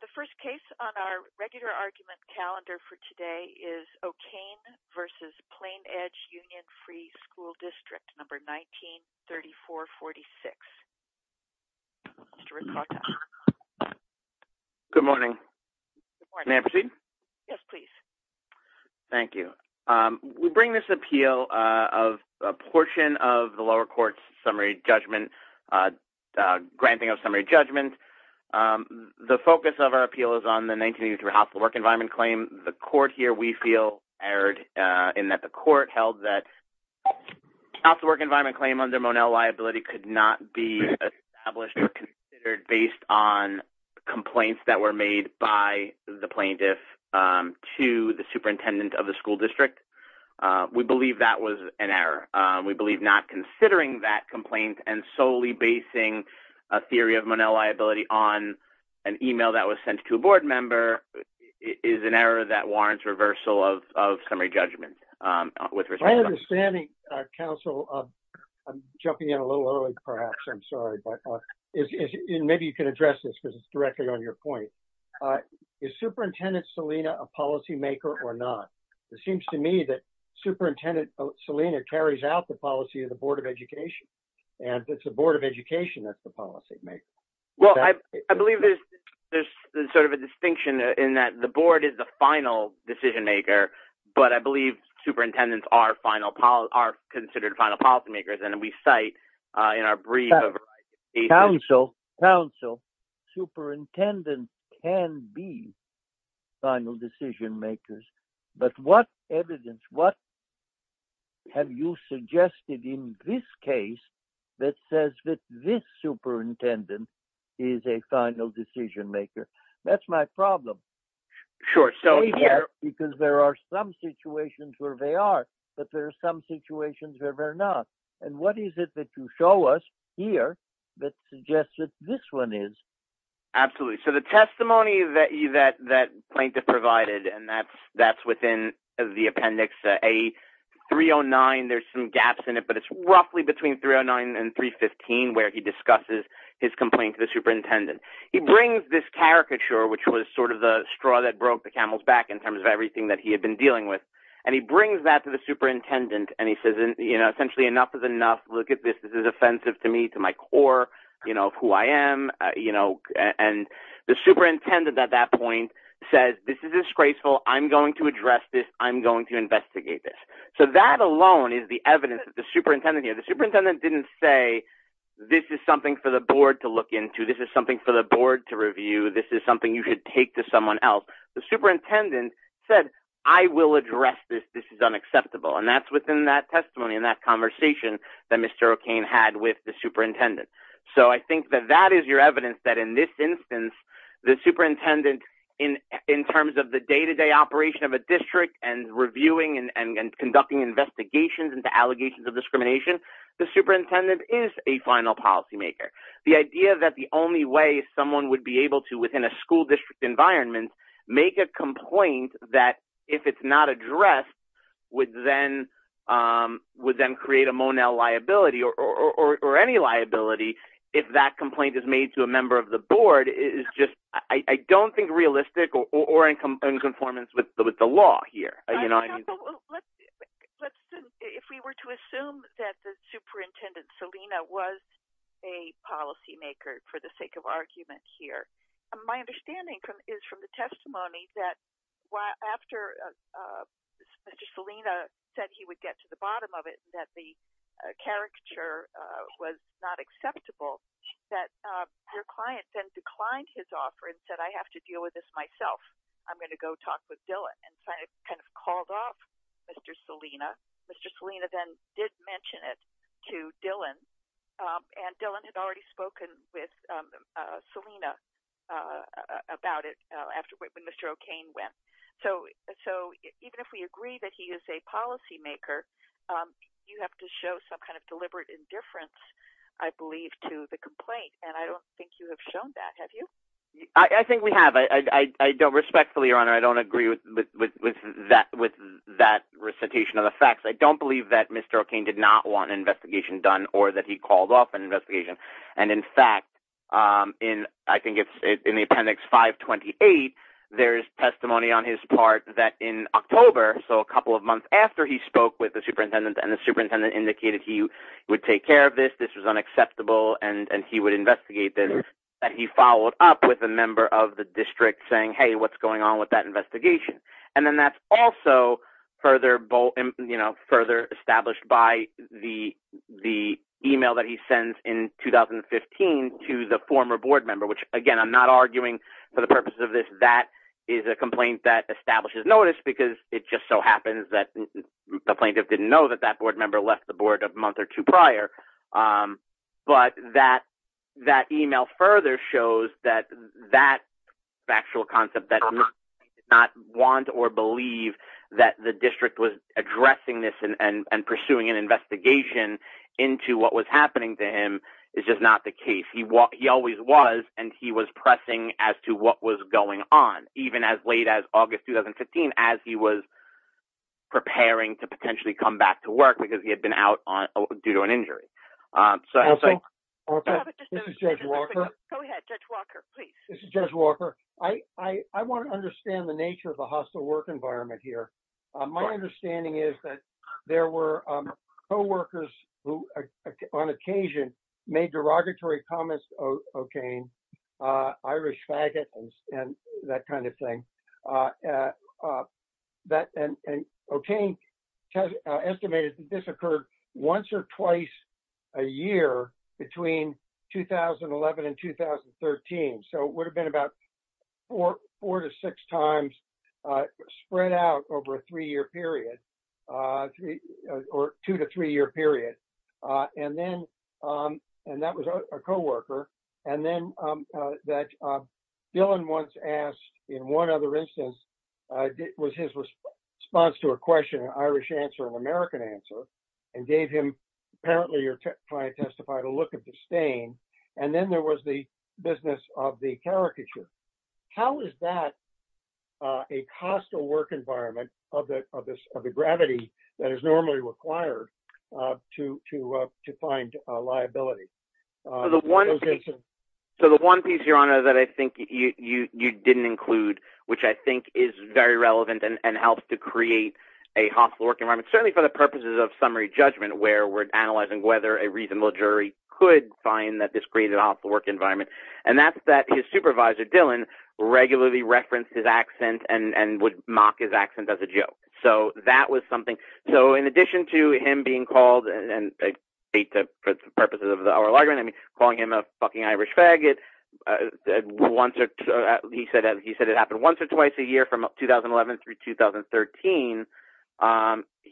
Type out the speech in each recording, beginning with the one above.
The first case on our regular argument calendar for today is O'Kane v. Plainedge Union Free School District, number 193446. Mr. Ricotta. Good morning. May I proceed? Yes, please. Thank you. We bring this appeal of a portion of the lower court's summary judgment, granting of summary judgment. The focus of our appeal is on the 1983 hospital work environment claim. The court here, we feel, erred in that the court held that hospital work environment claim under Monell liability could not be established or considered based on complaints that were made by the plaintiff to the superintendent of the school district. We believe that was an error. We believe not considering that complaint and solely basing a theory of Monell liability on an email that was sent to a board member is an error that warrants reversal of summary judgment. I'm jumping in a little early, perhaps. I'm sorry. Maybe you can address this because it's directly on your point. Is Superintendent Salina a policymaker or not? It seems to me that Superintendent Salina carries out the policy of the Board of Education, and it's the Board of Education that's the policymaker. Well, I believe there's sort of a distinction in that the board is the final decision maker, but I believe superintendents are considered final policymakers, and we cite in our brief. Counsel, superintendent can be final decision makers, but what evidence, what have you suggested in this case that says that this superintendent is a final decision maker? That's my problem. Because there are some situations where they are, but there are some situations where they're not. And what is it that you show us here that suggests that this one is? Absolutely. So the testimony that plaintiff provided, and that's within the appendix A-309, there's some gaps in it, but it's roughly between 309 and 315 where he discusses his complaint to the superintendent. He brings this caricature, which was sort of the straw that broke the camel's back in terms of everything that he had been dealing with. And he brings that to the superintendent, and he says, you know, essentially enough is enough. Look at this. This is offensive to me, to my core, you know, of who I am, you know. And the superintendent at that point says, this is disgraceful. I'm going to address this. I'm going to investigate this. So that alone is the evidence that the superintendent, the superintendent didn't say, this is something for the board to look into. This is something for the board to review. This is something you should take to someone else. The superintendent said, I will address this. This is unacceptable. And that's within that testimony and that conversation that Mr. O'Kane had with the superintendent. So I think that that is your evidence that in this instance, the superintendent in terms of the day-to-day operation of a district and reviewing and conducting investigations into allegations of discrimination, the superintendent is a final policymaker. The idea that the only way someone would be able to, within a school district environment, make a complaint that, if it's not addressed, would then create a Monell liability or any liability if that complaint is made to a member of the board is just, I don't think realistic or in conformance with the law here. You know what I mean? If we were to assume that the superintendent, Selena, was a policymaker for the sake of argument here, my understanding is from the testimony that after Mr. Selena said he would get to the bottom of it, that the caricature was not acceptable, that your client then declined his offer and said, I have to deal with this myself. I'm going to go talk with Dylan. And so I kind of called off Mr. Selena. Mr. Selena then did mention it to Dylan. And Dylan had already spoken with Selena about it when Mr. O'Kane went. So even if we agree that he is a policymaker, you have to show some kind of deliberate indifference, I believe, to the complaint. And I don't think you have shown that. Have you? I think we have. I don't respectfully, Your Honor, I don't agree with that recitation of the facts. I don't believe that Mr. O'Kane did not want an investigation done or that he called off an his part that in October, so a couple of months after he spoke with the superintendent and the superintendent indicated he would take care of this, this was unacceptable, and he would investigate this, that he followed up with a member of the district saying, hey, what's going on with that investigation? And then that's also further established by the email that he sends in 2015 to the former board member, which, again, I'm not arguing for the purposes of this. That is a complaint that establishes notice because it just so happens that the plaintiff didn't know that that board member left the board a month or two prior. But that email further shows that factual concept that he did not want or believe that the district was addressing this and pursuing an investigation into what was happening to him is just not the case. He always was, and he was pressing as to what was going on, even as late as August 2015, as he was preparing to potentially come back to work because he had been out due to an injury. So, this is Judge Walker. I want to understand the nature of the hostile work environment here. My understanding is that there were co-workers who on occasion made derogatory comments to O'Kane Irish faggots and that kind of thing. And O'Kane estimated that this occurred once or twice a year between 2011 and 2013. So, it would have been about four to six times spread out over a three-year period. And then, and that was a co-worker. And then that Dylan once asked in one other instance, was his response to a question, an Irish answer, an American answer and gave him, apparently your client testified, a look of disdain. And then there was the business of the caricature. How is that a hostile work environment of the gravity that is normally required to find a liability? So, the one piece, Your Honor, that I think you didn't include, which I think is very relevant and helps to create a hostile work environment, certainly for the purposes of summary judgment, where we're analyzing whether a reasonable jury could find that this created a hostile work environment. And that's that his supervisor, Dylan, regularly referenced his accent and would mock his accent as a joke. So, that was something. So, in addition to him being called, and for the purposes of the oral argument, I mean, calling him a fucking Irish faggot, he said it happened once or twice a year from 2011 through 2013.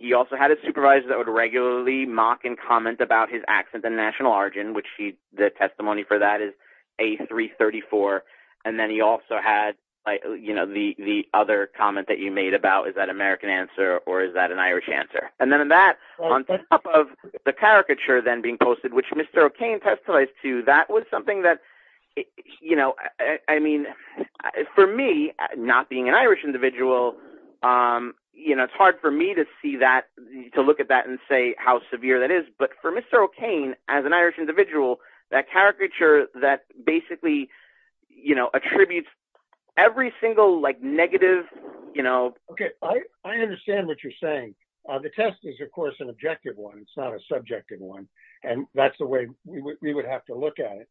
He also had a supervisor that would regularly mock and comment about his accent and national origin, which the testimony for that is A334. And then he also had, you know, the other comment that you made about, is that American answer or is that an Irish answer? And then that, on top of the caricature then being posted, which Mr. O'Kane testified to, that was something that, you know, I mean, for me, not being an Irish individual, you know, it's hard for me to see that, to look at that and how severe that is. But for Mr. O'Kane, as an Irish individual, that caricature that basically, you know, attributes every single, like, negative, you know. Okay. I understand what you're saying. The test is, of course, an objective one. It's not a subjective one. And that's the way we would have to look at it.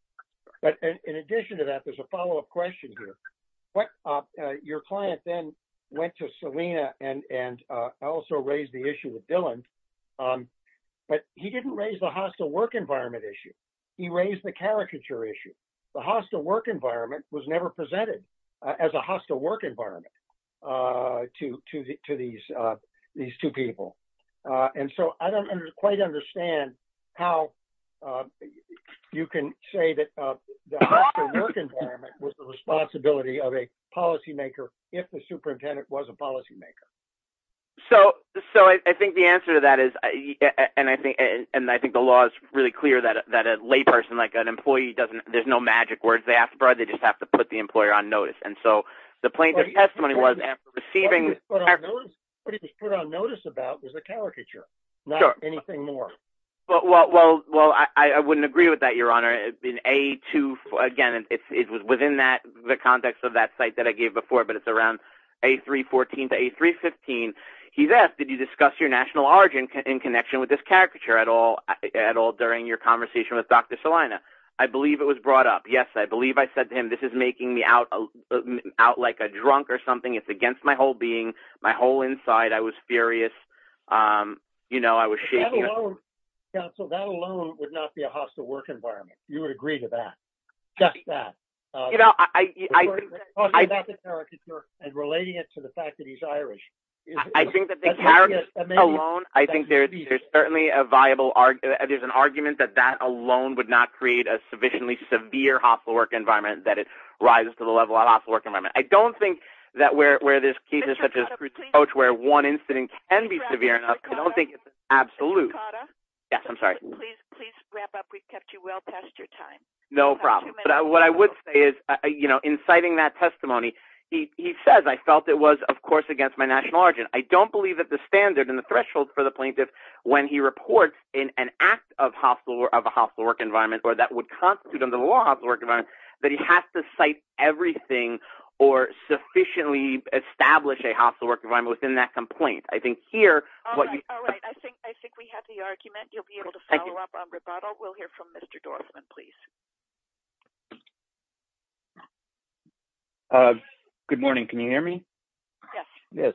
But in addition to that, there's a follow-up question here. Your client then went to Selena and also raised the issue with Dylan. But he didn't raise the hostile work environment issue. He raised the caricature issue. The hostile work environment was never presented as a hostile work environment to these two people. And so I don't quite understand how you can say that the hostile work environment was the responsibility of a policymaker if the superintendent was a policymaker. So I think the answer to that is, and I think the law is really clear that a layperson, like an employee, doesn't, there's no magic words they have to provide. They just have to put the employer on notice. And so the plaintiff's testimony was after receiving... What he was put on notice about was the caricature, not anything more. Well, I wouldn't agree with that, Your Honor. Again, it was within the context of that site that I gave before, but it's around A314 to A315. He asked, did you discuss your national origin in connection with this caricature at all during your conversation with Dr. Selena? I believe it was brought up. Yes, I believe I said to him, this is making me out like a drunk or something. It's against my whole being, my whole inside. I was furious. I was shaking. Counsel, that alone would not be a hostile work environment. You would agree to that. Just that. Talking about the caricature and relating it to the fact that he's Irish. I think that the caricature alone, I think there's certainly a viable argument. There's an argument that that alone would not create a sufficiently severe hostile work environment, that it rises to the level of a hostile work environment. I don't think that where there's cases such as Absolutely. Yes, I'm sorry. Please wrap up. We've kept you well past your time. No problem. What I would say is inciting that testimony. He says, I felt it was, of course, against my national origin. I don't believe that the standard and the threshold for the plaintiff when he reports in an act of a hostile work environment or that would constitute in the law hostile work environment, that he has to cite everything or sufficiently establish a hostile work environment within that complaint. I think here. All right. I think I think we have the argument. You'll be able to follow up on rebuttal. We'll hear from Mr. Dorfman, please. Good morning. Can you hear me? Yes. Yes.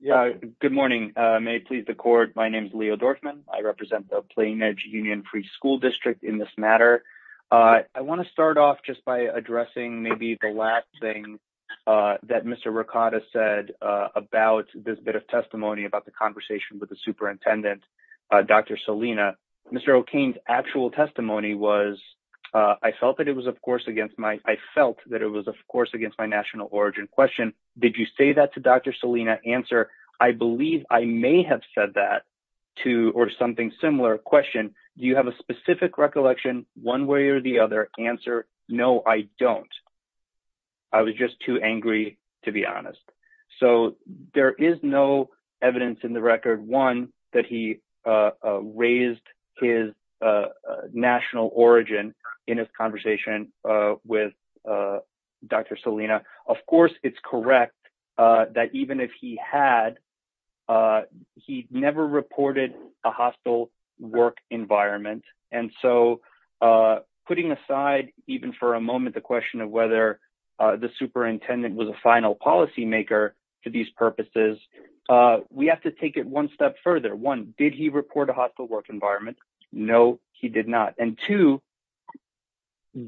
Yeah. Good morning. May it please the court. My name is Leo Dorfman. I represent the Plain Edge Union Free School District in this matter. I want to start off just by addressing maybe the last thing that Mr. Ricotta said about this bit of testimony about the conversation with the superintendent, Dr. Salina. Mr. O'Kane's actual testimony was I felt that it was, of course, against my I felt that it was, of course, against my national origin question. Did you say that to Dr. Salina answer? I believe I may have said that to or something similar question. Do you have a specific recollection one way or the other answer? No, I don't. I was just too angry, to be honest. So there is no evidence in the record, one, that he raised his national origin in his conversation with Dr. Salina. Of course, it's correct that even if he had, he never reported a hostile work environment. And so putting aside even for a moment, the question of whether the superintendent was a final policy maker for these purposes, we have to take it one step further. One, did he report a hostile work No, he did not. And two,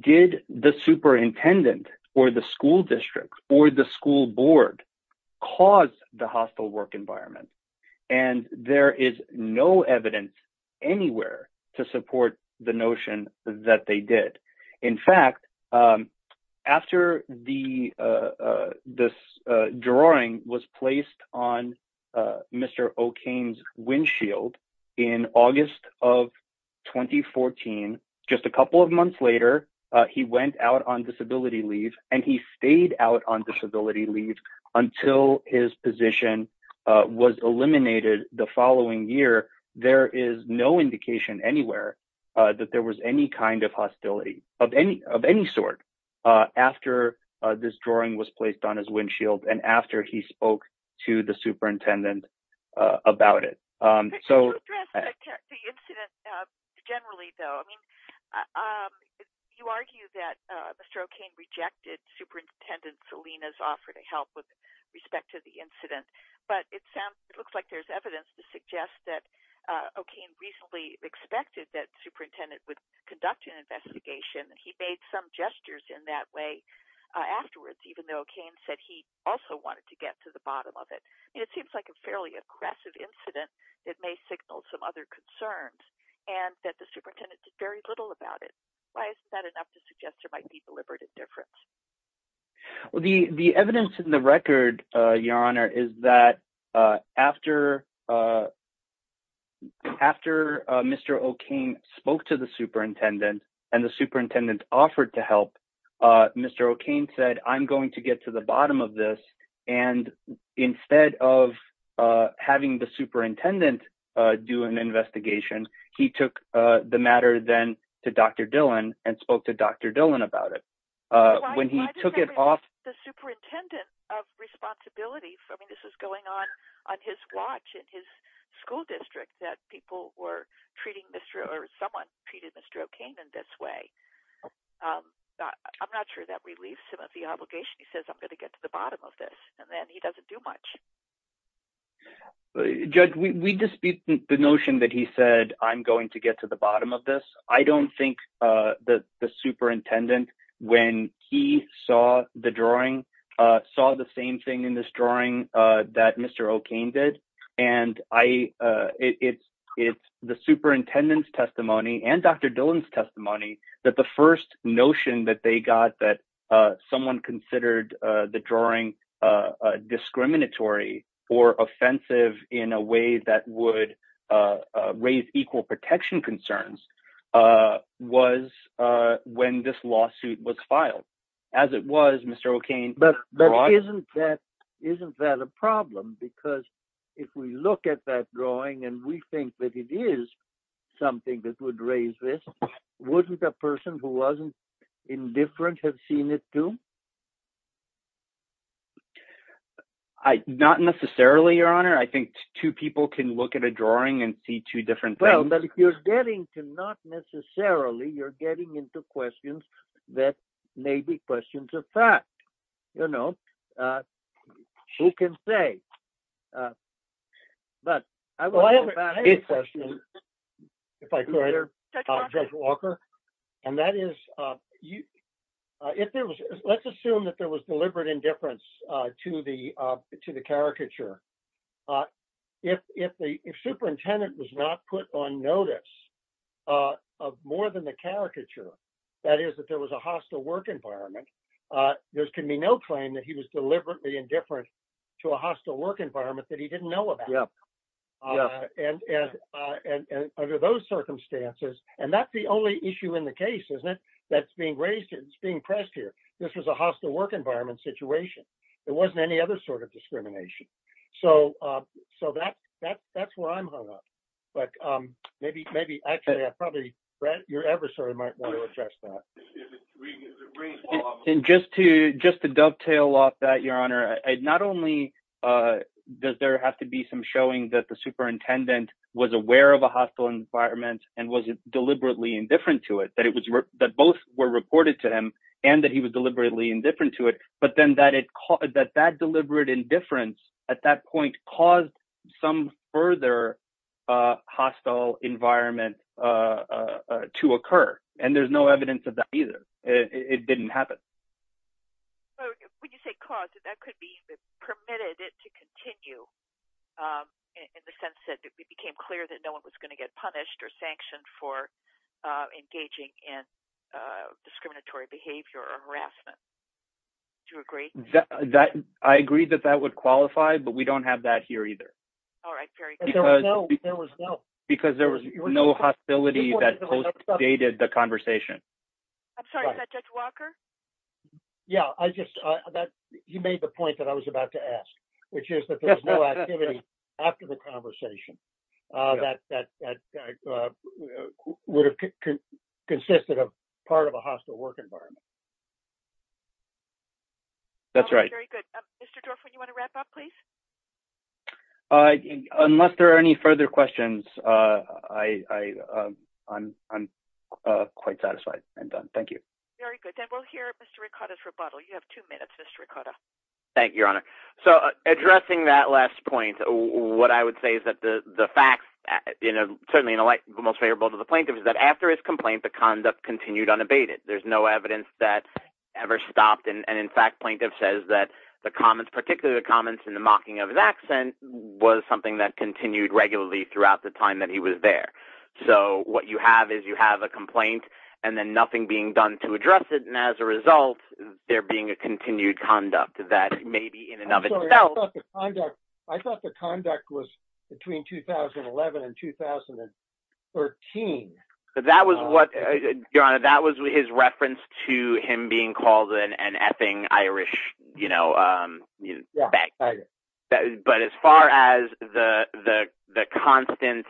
did the superintendent or the school district or the school board cause the hostile work environment? And there is no evidence anywhere to support the notion that they did. In fact, after this drawing was placed on Mr. O'Kane's windshield in August of 2014, just a couple of months later, he went out on disability leave and he stayed out on disability leave until his position was eliminated the following year. There is no indication anywhere that there was any kind of hostility of any sort after this drawing was placed. Can you address the incident generally, though? You argue that Mr. O'Kane rejected Superintendent Salina's offer to help with respect to the incident. But it looks like there's evidence to suggest that O'Kane reasonably expected that the superintendent would conduct an investigation. He made some gestures in that way afterwards, even though O'Kane said he also wanted to get to the bottom of it. It seems like a fairly aggressive incident. It may signal some other concerns and that the superintendent did very little about it. Why is that enough to suggest there might be deliberate indifference? Well, the evidence in the record, Your Honor, is that after Mr. O'Kane spoke to the superintendent and the superintendent offered to help, Mr. O'Kane said, I'm going to get to the bottom of this. And instead of having the superintendent do an investigation, he took the matter then to Dr. Dillon and spoke to Dr. Dillon about it. When he took it off... The superintendent of responsibility, I mean, this was going on on his watch in his school district that people were treating Mr. or someone treated Mr. O'Kane in this way. I'm not sure that relieves him of the obligation. He says, I'm going to get to the bottom of this. He doesn't do much. Judge, we dispute the notion that he said, I'm going to get to the bottom of this. I don't think that the superintendent, when he saw the drawing, saw the same thing in this drawing that Mr. O'Kane did. And it's the superintendent's testimony and Dr. Dillon's testimony that the first notion that they got that someone considered the drawing discriminatory or offensive in a way that would raise equal protection concerns was when this lawsuit was filed. As it was Mr. O'Kane... But isn't that a problem? Because if we look at that drawing and we think that it is something that would raise this, wouldn't a person who wasn't indifferent have seen it too? Not necessarily, your honor. I think two people can look at a drawing and see two different things. Well, but if you're getting to not necessarily, you're getting into questions that may be questions of fact. You know, who can say? But I have a question if I could, Judge Walker. And that is, let's assume that there was deliberate indifference to the caricature. If the was a hostile work environment, there can be no claim that he was deliberately indifferent to a hostile work environment that he didn't know about. And under those circumstances, and that's the only issue in the case, isn't it? That's being raised, it's being pressed here. This was a hostile work environment situation. There wasn't any other sort of discrimination. So that's where I'm hung up. But maybe, actually, I probably, Brad, your adversary might want to address that. And just to dovetail off that, your honor, not only does there have to be some showing that the superintendent was aware of a hostile environment and was deliberately indifferent to it, that both were reported to him and that he was deliberately indifferent to it, but then that deliberate indifference at that point caused some further hostile environment to occur. And there's no evidence of that either. It didn't happen. But when you say caused, that could be permitted to continue in the sense that it became clear that no one was going to get punished or sanctioned for engaging in discriminatory behavior or harassment. Do you agree? I agree that that would qualify, but we don't have that here either. All right. Very good. There was no hostility that postdated the conversation. I'm sorry. Is that Judge Walker? Yeah. He made the point that I was about to ask, which is that there's no activity after the conversation that would have consisted of part of a hostile work environment. That's right. Very good. Mr. Dorfman, you want to wrap up, please? I think unless there are any further questions, I'm quite satisfied and done. Thank you. Very good. And we'll hear Mr. Ricotta's rebuttal. You have two minutes, Mr. Ricotta. Thank you, Your Honor. So addressing that last point, what I would say is that the facts, certainly the most favorable to the plaintiff is that after his complaint, the conduct continued unabated. There's no evidence that ever stopped. And in fact, plaintiff says that the comments, particularly the comments in the mocking of his accent, was something that continued regularly throughout the time that he was there. So what you have is you have a complaint and then nothing being done to address it. And as a result, there being a continued conduct that may be in and of itself. I thought the conduct was between 2011 and 2013. That was what, Your Honor, that was his reference to him being called an effing Irish, you know. But as far as the constant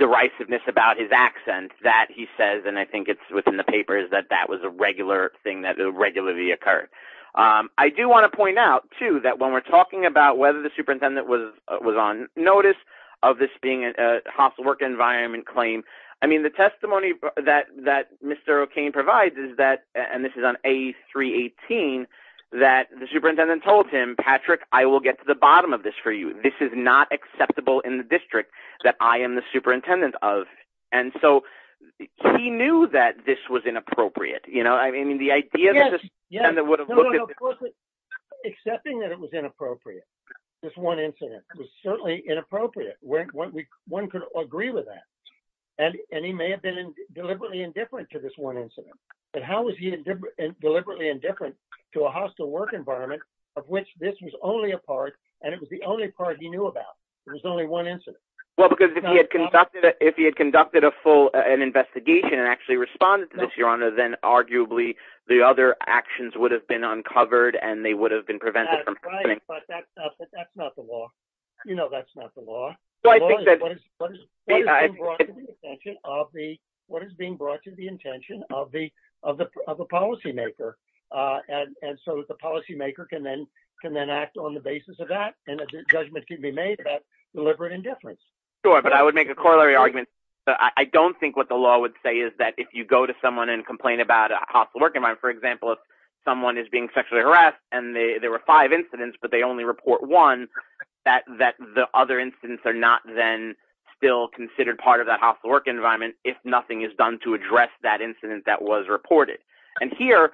derisiveness about his accent that he says, and I think it's within the papers that that was a regular thing that regularly occurred. I do want to point out, too, that when we're talking about whether the superintendent was on notice of this being a work environment claim, I mean, the testimony that that Mr. O'Kane provides is that, and this is on A318, that the superintendent told him, Patrick, I will get to the bottom of this for you. This is not acceptable in the district that I am the superintendent of. And so he knew that this was inappropriate. You know, I mean, the idea that this would have looked at. Accepting that it was inappropriate, this one incident was certainly inappropriate. One could agree with that. And he may have been deliberately indifferent to this one incident. But how was he deliberately indifferent to a hostile work environment of which this was only a part and it was the only part he knew about? It was only one incident. Well, because if he had conducted a full investigation and actually responded to this, Your Honor, then arguably the other actions would have been uncovered and they would have been You know, that's not the law. What is being brought to the attention of a policymaker? And so the policymaker can then act on the basis of that and a judgment can be made about deliberate indifference. Sure, but I would make a corollary argument. I don't think what the law would say is that if you go to someone and complain about a hostile work environment, for example, if someone is being sexually harassed and there were five incidents, but they only report one, that the other incidents are not then still considered part of that hostile work environment if nothing is done to address that incident that was reported. And here,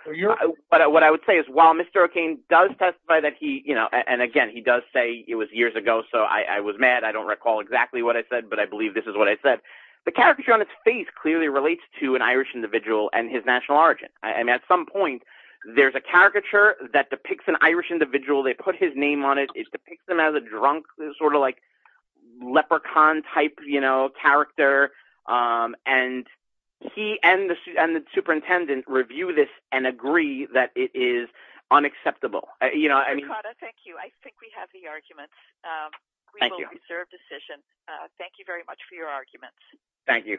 what I would say is while Mr. O'Kane does testify that he, you know, and again, he does say it was years ago, so I was mad. I don't recall exactly what I said, but I believe this is what I said. The caricature on its face clearly relates to an Irish individual and his national origin. And at some point, there's a caricature that depicts an Irish individual. They put his name on it. It depicts him as a drunk, sort of like leprechaun type, you know, character. And he and the superintendent review this and agree that it is unacceptable. You know, I mean... Ricardo, thank you. I think we have the arguments. Thank you. We will reserve decision. Thank you very much for your arguments. Thank you.